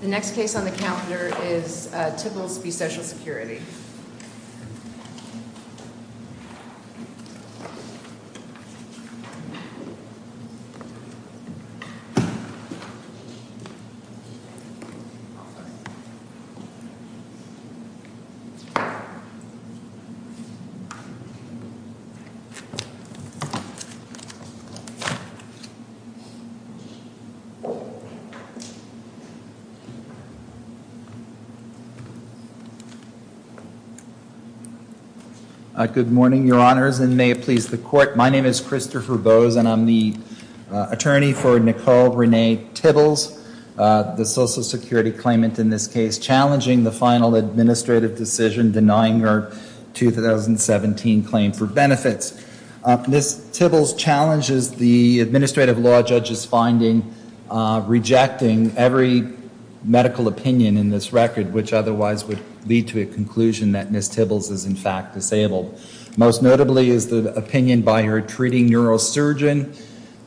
The next case on the calendar is Tibbles v. Social Security Good morning, your honors, and may it please the court. My name is Christopher Bowes, and I'm the attorney for Nicole Renee Tibbles, the Social Security claimant in this case, challenging the final administrative decision denying our 2017 claim for benefits. Ms. Tibbles challenges the administrative law judge's finding rejecting every medical opinion in this record, which otherwise would lead to a conclusion that Ms. Tibbles is in fact disabled. Most notably is the opinion by her treating neurosurgeon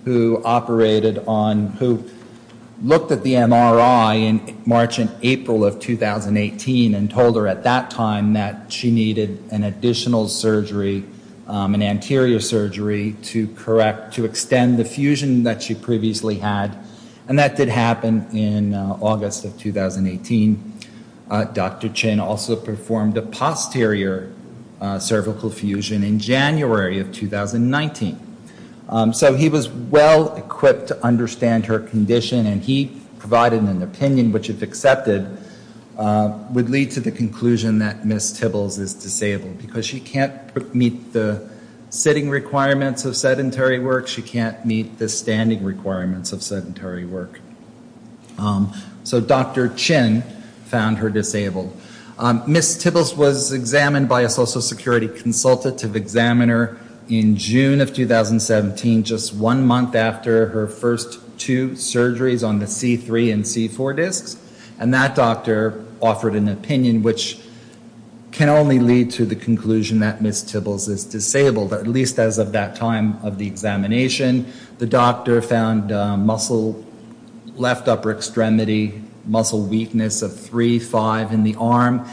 who operated on, who looked at the MRI in March and April of 2018 and told her at that time that she needed an additional surgery, an anterior surgery, to correct, to extend the fusion that she previously had, and that did happen in August of 2018. Dr. Chin also performed a posterior cervical fusion in January of 2019. So he was well-equipped to understand her condition, and he provided an opinion which, if accepted, would lead to the conclusion that Ms. Tibbles is disabled, because she can't meet the sitting requirements of sedentary work, she can't meet the standing requirements of sedentary work. So Dr. Chin found her disabled. Ms. Tibbles was examined by a Social Security consultative examiner in June of 2017, just one month after her first two surgeries on the C3 and C4 discs, and that doctor offered an opinion which can only lead to the conclusion that Ms. Tibbles is disabled, at least as of that time of the examination. The doctor found muscle, left upper extremity muscle weakness of three, five in the arm,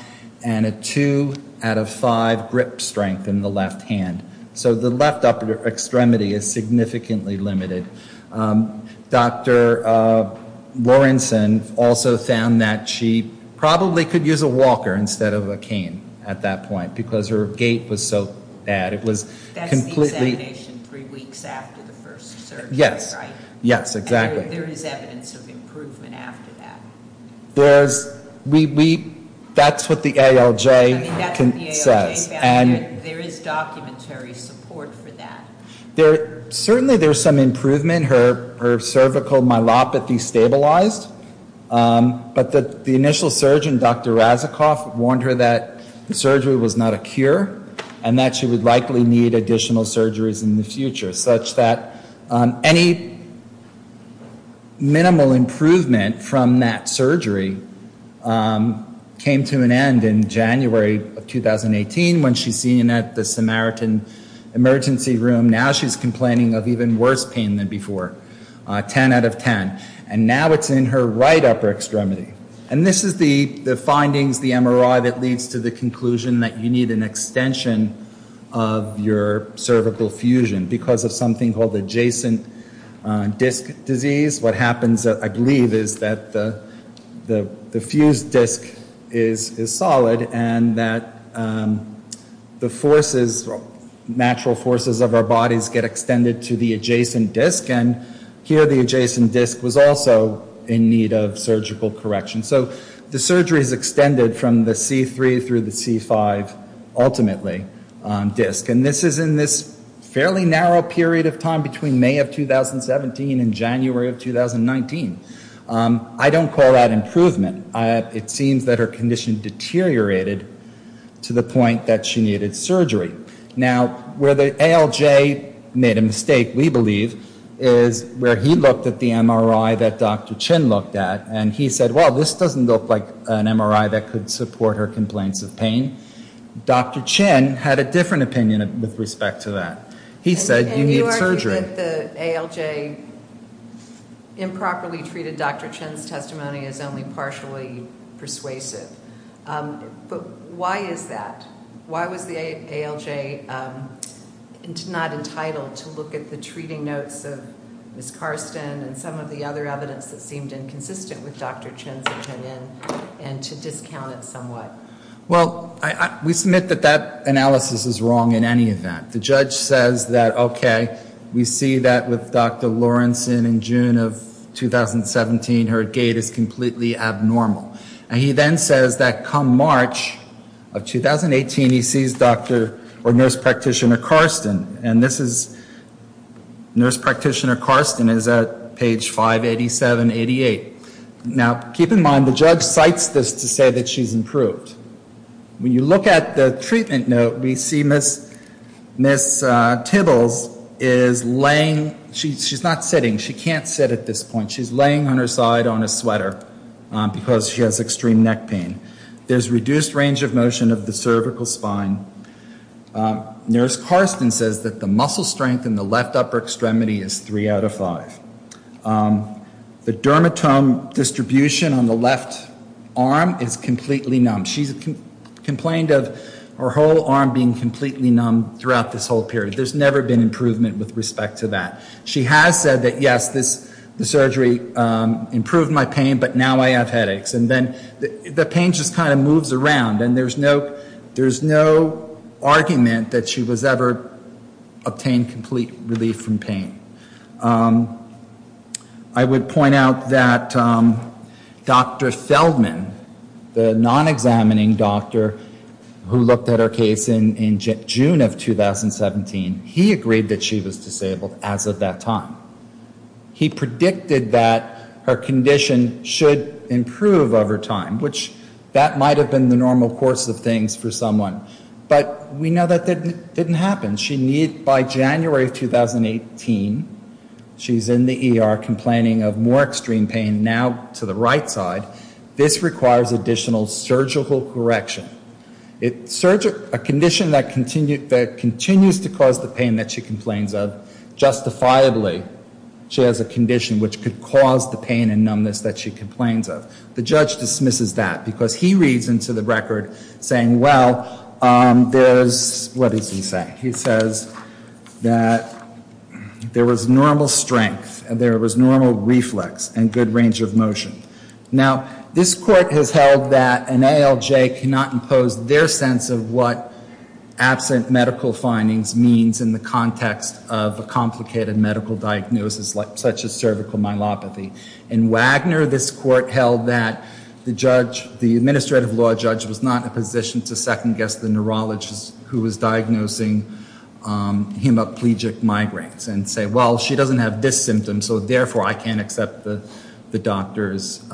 and a two out of five grip strength in the left hand. So the left upper extremity is significantly limited. Dr. Lawrenson also found that she probably could use a walker instead of a cane at that point, because her gait was so bad. That's the examination three weeks after the first surgery, right? Yes, exactly. And there is evidence of improvement after that? That's what the ALJ says. I mean, that's what the ALJ found, and there is documentary support for that. Certainly there's some improvement. Her cervical myelopathy stabilized, but the initial surgeon, Dr. Razakov, warned her that the surgery was not a cure, and that she would likely need additional surgeries in the future, such that any minimal improvement from that surgery came to an end in January of 2018, when she's seen at the Samaritan emergency room. Now she's complaining of even worse pain than before. Ten out of ten. And now it's in her right upper extremity. And this is the findings, the MRI, that leads to the conclusion that you need an extension of your cervical fusion, because of something called adjacent disc disease. What happens, I believe, is that the fused disc is solid, and that the natural forces of our bodies get extended to the adjacent disc, and here the adjacent disc was also in need of surgical correction. So the surgery is extended from the C3 through the C5, ultimately, disc. And this is in this fairly narrow period of time between May of 2017 and January of 2019. I don't call that improvement. It seems that her condition deteriorated to the point that she needed surgery. Now, where the ALJ made a mistake, we believe, is where he looked at the MRI that Dr. Chin looked at, and he said, well, this doesn't look like an MRI that could support her complaints of pain. Dr. Chin had a different opinion with respect to that. He said you need surgery. I think that the ALJ improperly treated Dr. Chin's testimony is only partially persuasive. But why is that? Why was the ALJ not entitled to look at the treating notes of Ms. Karsten and some of the other evidence that seemed inconsistent with Dr. Chin's opinion and to discount it somewhat? Well, we submit that that analysis is wrong in any event. The judge says that, okay, we see that with Dr. Lawrenson in June of 2017, her gait is completely abnormal. And he then says that come March of 2018, he sees Dr. or Nurse Practitioner Karsten. And this is Nurse Practitioner Karsten is at page 587-88. Now, keep in mind, the judge cites this to say that she's improved. When you look at the treatment note, we see Ms. Tibbles is laying, she's not sitting, she can't sit at this point. She's laying on her side on a sweater because she has extreme neck pain. There's reduced range of motion of the cervical spine. Nurse Karsten says that the muscle strength in the left upper extremity is three out of five. The dermatome distribution on the left arm is completely numb. She's complained of her whole arm being completely numb throughout this whole period. There's never been improvement with respect to that. She has said that, yes, the surgery improved my pain, but now I have headaches. And then the pain just kind of moves around. And there's no argument that she was ever obtained complete relief from pain. I would point out that Dr. Feldman, the non-examining doctor who looked at her case in June of 2017, he agreed that she was disabled as of that time. He predicted that her condition should improve over time, which that might have been the normal course of things for someone. But we know that didn't happen. By January of 2018, she's in the ER complaining of more extreme pain now to the right side. This requires additional surgical correction. A condition that continues to cause the pain that she complains of, justifiably, she has a condition which could cause the pain and numbness that she complains of. The judge dismisses that because he reads into the record saying, well, there's, what does he say? He says that there was normal strength and there was normal reflex and good range of motion. Now, this court has held that an ALJ cannot impose their sense of what absent medical findings means in the context of a complicated medical diagnosis such as cervical myelopathy. In Wagner, this court held that the judge, the administrative law judge, was not in a position to second guess the neurologist who was diagnosing hemiplegic migraines and say, well, she doesn't have this symptom, so therefore I can't accept the doctor's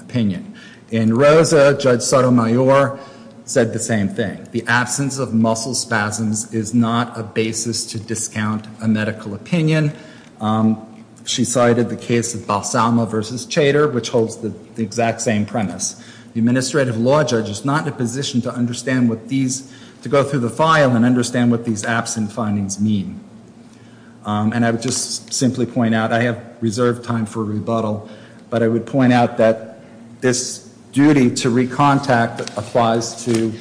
opinion. In Rosa, Judge Sotomayor said the same thing. The absence of muscle spasms is not a basis to discount a medical opinion. She cited the case of Balsama v. Chater, which holds the exact same premise. The administrative law judge is not in a position to understand what these, to go through the file and understand what these absent findings mean. And I would just simply point out, I have reserved time for rebuttal, but I would point out that this duty to recontact applies to,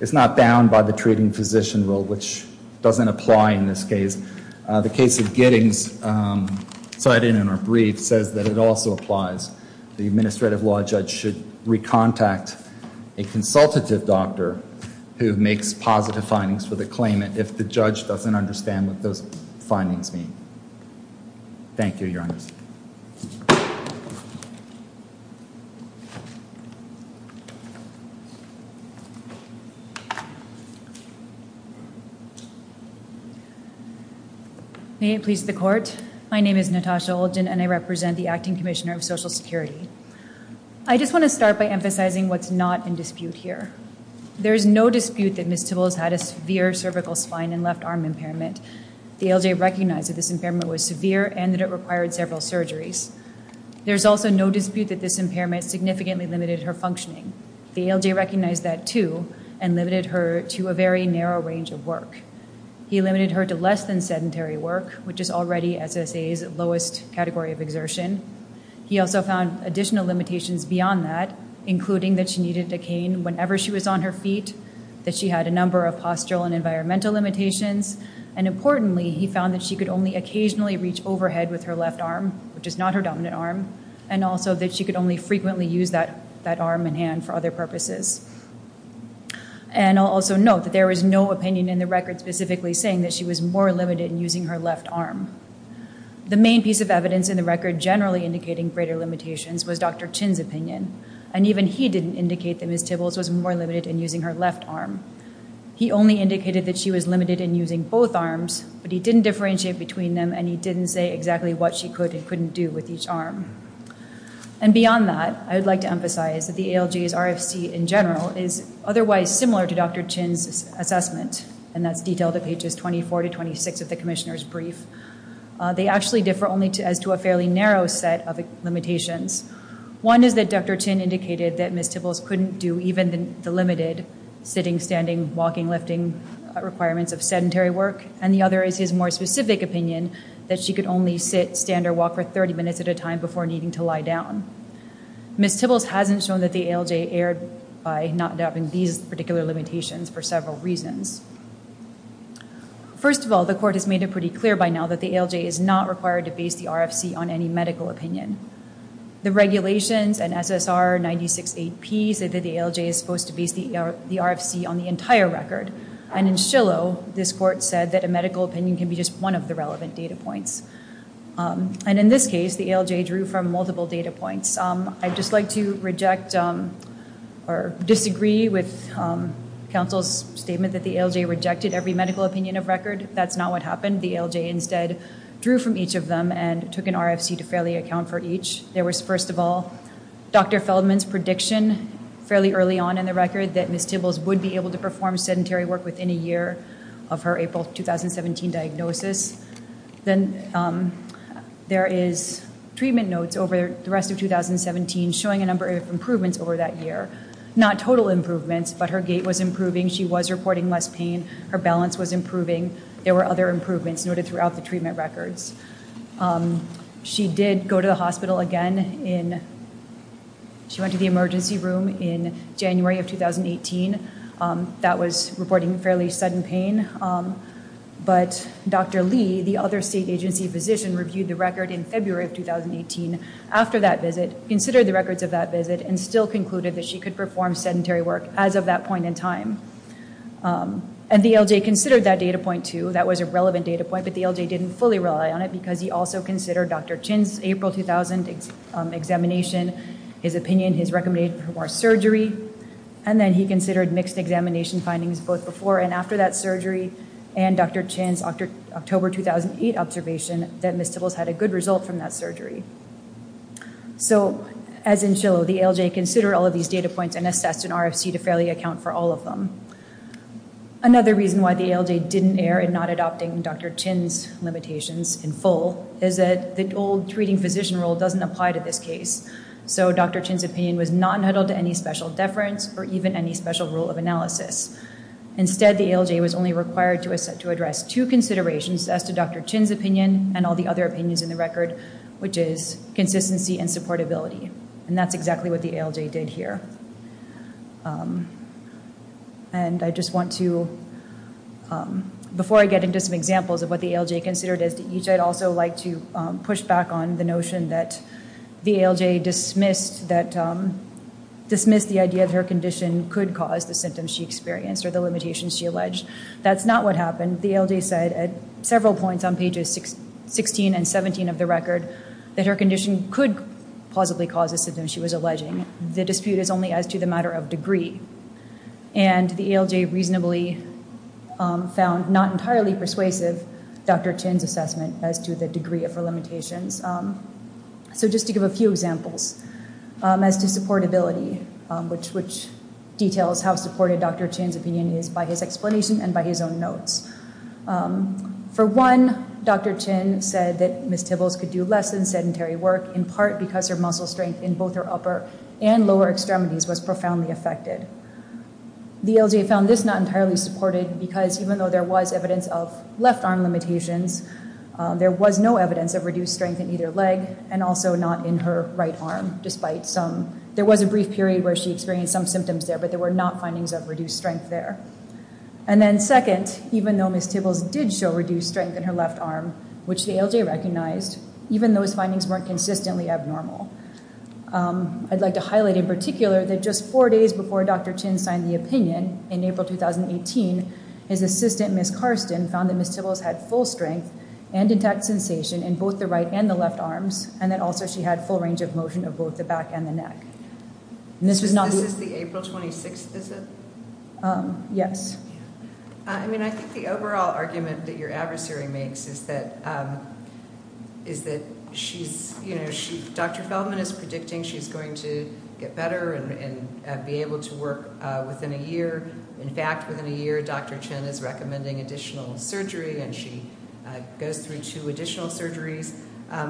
it's not bound by the treating physician rule, which doesn't apply in this case. The case of Giddings, cited in our brief, says that it also applies. The administrative law judge should recontact a consultative doctor who makes positive findings for the claimant if the judge doesn't understand what those findings mean. Thank you, Your Honor. May it please the Court. My name is Natasha Olgin, and I represent the Acting Commissioner of Social Security. I just want to start by emphasizing what's not in dispute here. There is no dispute that Ms. Tibbles had a severe cervical spine and left arm impairment. The ALJ recognized that this impairment was severe and that it required several surgeries. There is also no dispute that this impairment significantly limited her functioning. The ALJ recognized that, too, and limited her to a very narrow range of work. He limited her to less than sedentary work, which is already SSA's lowest category of exertion. He also found additional limitations beyond that, including that she needed a cane whenever she was on her feet, that she had a number of postural and environmental limitations, and importantly, he found that she could only occasionally reach overhead with her left arm, which is not her dominant arm, and also that she could only frequently use that arm and hand for other purposes. And I'll also note that there was no opinion in the record specifically saying that she was more limited in using her left arm. The main piece of evidence in the record generally indicating greater limitations was Dr. Chin's opinion, and even he didn't indicate that Ms. Tibbles was more limited in using her left arm. He only indicated that she was limited in using both arms, but he didn't differentiate between them, and he didn't say exactly what she could and couldn't do with each arm. And beyond that, I would like to emphasize that the ALJ's RFC in general is otherwise similar to Dr. Chin's assessment, and that's detailed at pages 24 to 26 of the commissioner's brief. They actually differ only as to a fairly narrow set of limitations. One is that Dr. Chin indicated that Ms. Tibbles couldn't do even the limited sitting, standing, walking, lifting requirements of sedentary work, and the other is his more specific opinion that she could only sit, stand, or walk for 30 minutes at a time before needing to lie down. Ms. Tibbles hasn't shown that the ALJ erred by not adopting these particular limitations for several reasons. First of all, the court has made it pretty clear by now that the ALJ is not required to base the RFC on any medical opinion. The regulations in SSR 96-8P say that the ALJ is supposed to base the RFC on the entire record, and in Shillow, this court said that a medical opinion can be just one of the relevant data points. And in this case, the ALJ drew from multiple data points. I'd just like to reject or disagree with counsel's statement that the ALJ rejected every medical opinion of record. That's not what happened. The ALJ instead drew from each of them and took an RFC to fairly account for each. There was, first of all, Dr. Feldman's prediction fairly early on in the record that Ms. Tibbles would be able to perform sedentary work within a year of her April 2017 diagnosis. Then there is treatment notes over the rest of 2017 showing a number of improvements over that year. Not total improvements, but her gait was improving. She was reporting less pain. Her balance was improving. There were other improvements noted throughout the treatment records. She did go to the hospital again. She went to the emergency room in January of 2018. That was reporting fairly sudden pain, but Dr. Lee, the other state agency physician, reviewed the record in February of 2018 after that visit, considered the records of that visit, and still concluded that she could perform sedentary work as of that point in time. And the ALJ considered that data point, too. That was a relevant data point, but the ALJ didn't fully rely on it because he also considered Dr. Chin's April 2000 examination, his opinion, his recommendation for more surgery, and then he considered mixed examination findings both before and after that surgery and Dr. Chin's October 2008 observation that Ms. Tibbles had a good result from that surgery. So, as in Shillow, the ALJ considered all of these data points and assessed an RFC to fairly account for all of them. Another reason why the ALJ didn't err in not adopting Dr. Chin's limitations in full is that the old treating physician rule doesn't apply to this case. So Dr. Chin's opinion was not nuddled to any special deference or even any special rule of analysis. Instead, the ALJ was only required to address two considerations as to Dr. Chin's opinion and all the other opinions in the record, which is consistency and supportability. And that's exactly what the ALJ did here. And I just want to, before I get into some examples of what the ALJ considered as to each, I'd also like to push back on the notion that the ALJ dismissed the idea that her condition could cause the symptoms she experienced or the limitations she alleged. That's not what happened. The ALJ said at several points on pages 16 and 17 of the record that her condition could possibly cause the symptoms she was alleging. The dispute is only as to the matter of degree. And the ALJ reasonably found not entirely persuasive Dr. Chin's assessment as to the degree of her limitations. So just to give a few examples as to supportability, which details how supportive Dr. Chin's opinion is by his explanation and by his own notes. For one, Dr. Chin said that Ms. Tibbles could do less than sedentary work in part because her muscle strength in both her upper and lower extremities was profoundly affected. The ALJ found this not entirely supported because even though there was evidence of left arm limitations, there was no evidence of reduced strength in either leg and also not in her right arm, despite some, there was a brief period where she experienced some symptoms there, but there were not findings of reduced strength there. And then second, even though Ms. Tibbles did show reduced strength in her left arm, which the ALJ recognized, even those findings weren't consistently abnormal. I'd like to highlight in particular that just four days before Dr. Chin signed the opinion, in April 2018, his assistant Ms. Karsten found that Ms. Tibbles had full strength and intact sensation in both the right and the left arms, and that also she had full range of motion of both the back and the neck. This is the April 26th, is it? Yes. I mean, I think the overall argument that your adversary makes is that she's, you know, Dr. Feldman is predicting she's going to get better and be able to work within a year. In fact, within a year, Dr. Chin is recommending additional surgery, and she goes through two additional surgeries,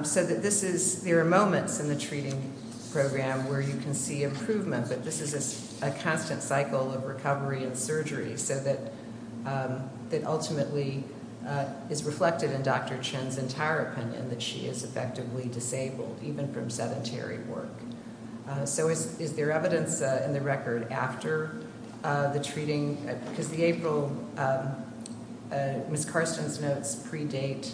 so that this is there are moments in the treating program where you can see improvement, but this is a constant cycle of recovery and surgery, so that ultimately is reflected in Dr. Chin's entire opinion that she is effectively disabled, even from sedentary work. So is there evidence in the record after the treating? Because the April, Ms. Karsten's notes predate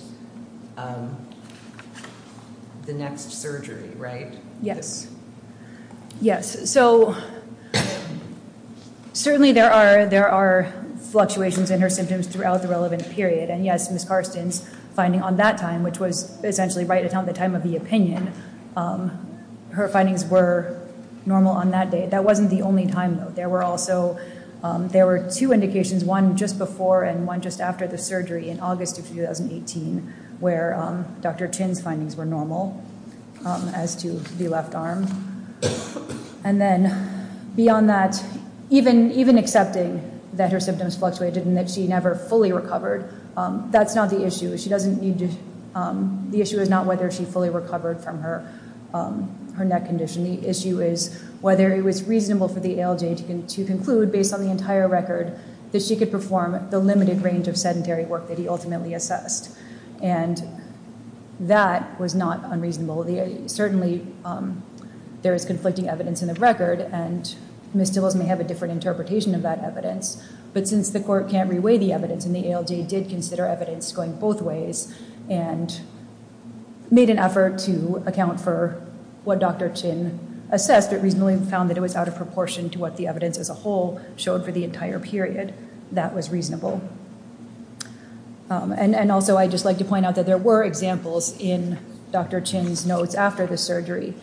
the next surgery, right? Yes. Yes, so certainly there are fluctuations in her symptoms throughout the relevant period, and yes, Ms. Karsten's finding on that time, which was essentially right around the time of the opinion, her findings were normal on that day. That wasn't the only time, though. There were also two indications, one just before and one just after the surgery in August of 2018, where Dr. Chin's findings were normal as to the left arm. And then beyond that, even accepting that her symptoms fluctuated and that she never fully recovered, that's not the issue. The issue is not whether she fully recovered from her neck condition. The issue is whether it was reasonable for the ALJ to conclude, based on the entire record, that she could perform the limited range of sedentary work that he ultimately assessed. And that was not unreasonable. Certainly there is conflicting evidence in the record, and Ms. Stibbles may have a different interpretation of that evidence. But since the court can't reweigh the evidence, and the ALJ did consider evidence going both ways and made an effort to account for what Dr. Chin assessed, but reasonably found that it was out of proportion to what the evidence as a whole showed for the entire period, that was reasonable. And also I'd just like to point out that there were examples in Dr. Chin's notes after the surgery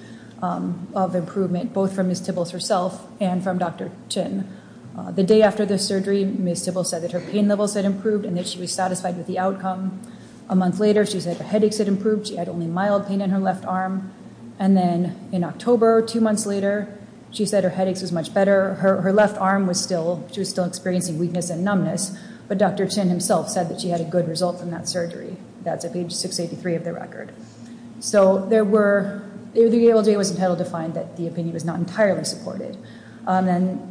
of improvement, both from Ms. Stibbles herself and from Dr. Chin. The day after the surgery, Ms. Stibbles said that her pain levels had improved and that she was satisfied with the outcome. A month later, she said the headaches had improved. She had only mild pain in her left arm. And then in October, two months later, she said her headaches was much better. Her left arm was still experiencing weakness and numbness, but Dr. Chin himself said that she had a good result from that surgery. That's at page 683 of the record. So the ALJ was entitled to find that the opinion was not entirely supported.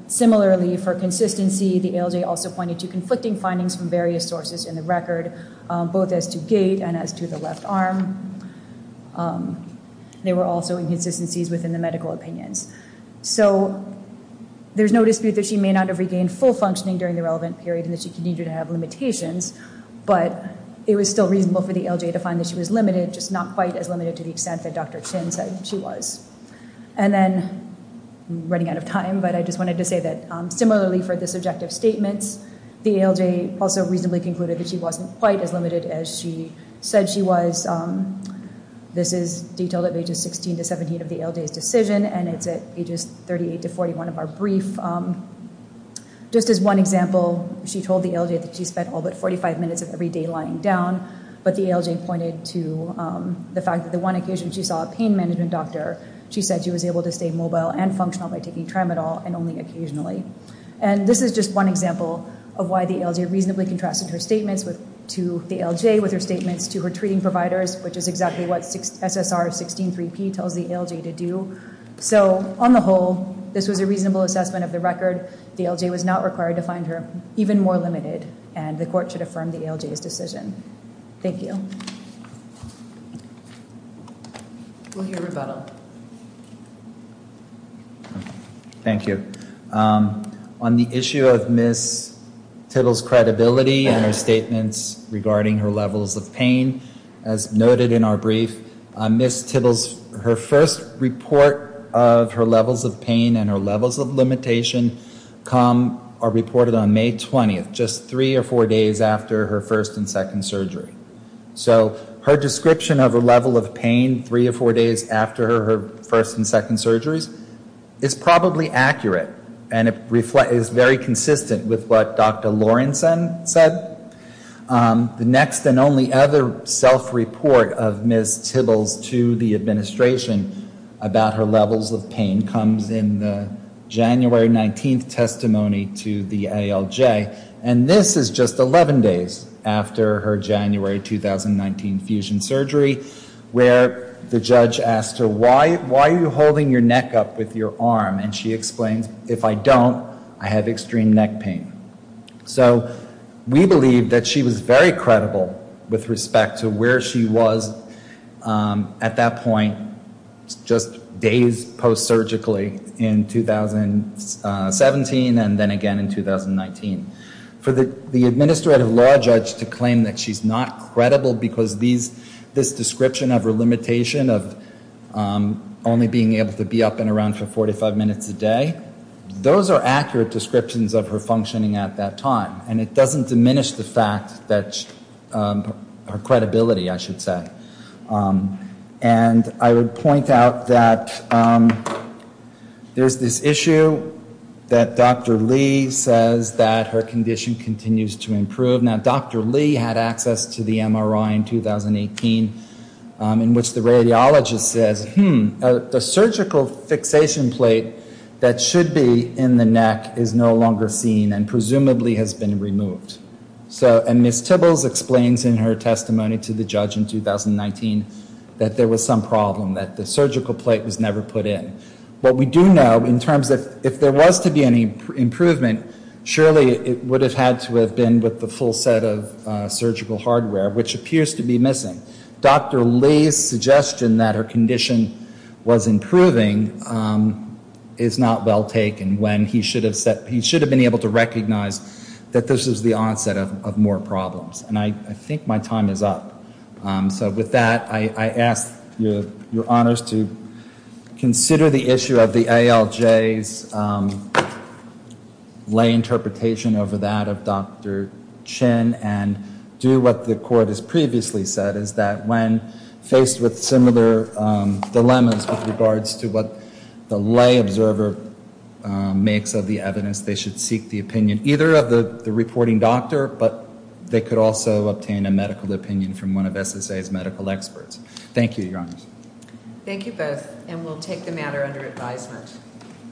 Similarly, for consistency, the ALJ also pointed to conflicting findings from various sources in the record, both as to gait and as to the left arm. There were also inconsistencies within the medical opinions. So there's no dispute that she may not have regained full functioning during the relevant period and that she continued to have limitations, but it was still reasonable for the ALJ to find that she was limited, just not quite as limited to the extent that Dr. Chin said she was. And then, I'm running out of time, but I just wanted to say that similarly for the subjective statements, the ALJ also reasonably concluded that she wasn't quite as limited as she said she was. This is detailed at pages 16 to 17 of the ALJ's decision, and it's at pages 38 to 41 of our brief. Just as one example, she told the ALJ that she spent all but 45 minutes of every day lying down, but the ALJ pointed to the fact that the one occasion she saw a pain management doctor, she said she was able to stay mobile and functional by taking Tramadol and only occasionally. And this is just one example of why the ALJ reasonably contrasted her statements to the ALJ with her statements to her treating providers, which is exactly what SSR 16-3P tells the ALJ to do. So, on the whole, this was a reasonable assessment of the record. The ALJ was not required to find her even more limited, and the court should affirm the ALJ's decision. Thank you. We'll hear rebuttal. Thank you. On the issue of Ms. Tittle's credibility in her statements regarding her levels of pain, as noted in our brief, Ms. Tittle's first report of her levels of pain and her levels of limitation are reported on May 20th, just three or four days after her first and second surgery. So her description of her level of pain three or four days after her first and second surgeries is probably accurate, and is very consistent with what Dr. Lorenzen said. The next and only other self-report of Ms. Tittle's to the administration about her levels of pain comes in the January 19th testimony to the ALJ, and this is just 11 days after her January 2019 fusion surgery, where the judge asked her, why are you holding your neck up with your arm? And she explained, if I don't, I have extreme neck pain. So, we believe that she was very credible with respect to where she was at that point, just days post-surgically in 2017 and then again in 2019. For the administrative law judge to claim that she's not credible because this description of her limitation of only being able to be up and around for 45 minutes a day, those are accurate descriptions of her functioning at that time, and it doesn't diminish the fact that her credibility, I should say. And I would point out that there's this issue that Dr. Lee says that her condition continues to improve. Now, Dr. Lee had access to the MRI in 2018, in which the radiologist says, hmm, the surgical fixation plate that should be in the neck is no longer seen and presumably has been removed. And Ms. Tibbles explains in her testimony to the judge in 2019 that there was some problem, that the surgical plate was never put in. What we do know in terms of, if there was to be any improvement, surely it would have had to have been with the full set of surgical hardware, which appears to be missing. Dr. Lee's suggestion that her condition was improving is not well taken when he should have been able to recognize that this was the onset of more problems. And I think my time is up. So with that, I ask your honors to consider the issue of the ALJ's lay interpretation over that of Dr. Chin and do what the court has previously said, is that when faced with similar dilemmas with regards to what the lay observer makes of the evidence, they should seek the opinion either of the reporting doctor, but they could also obtain a medical opinion from one of SSA's medical experts. Thank you, your honors. Thank you both, and we'll take the matter under advisement.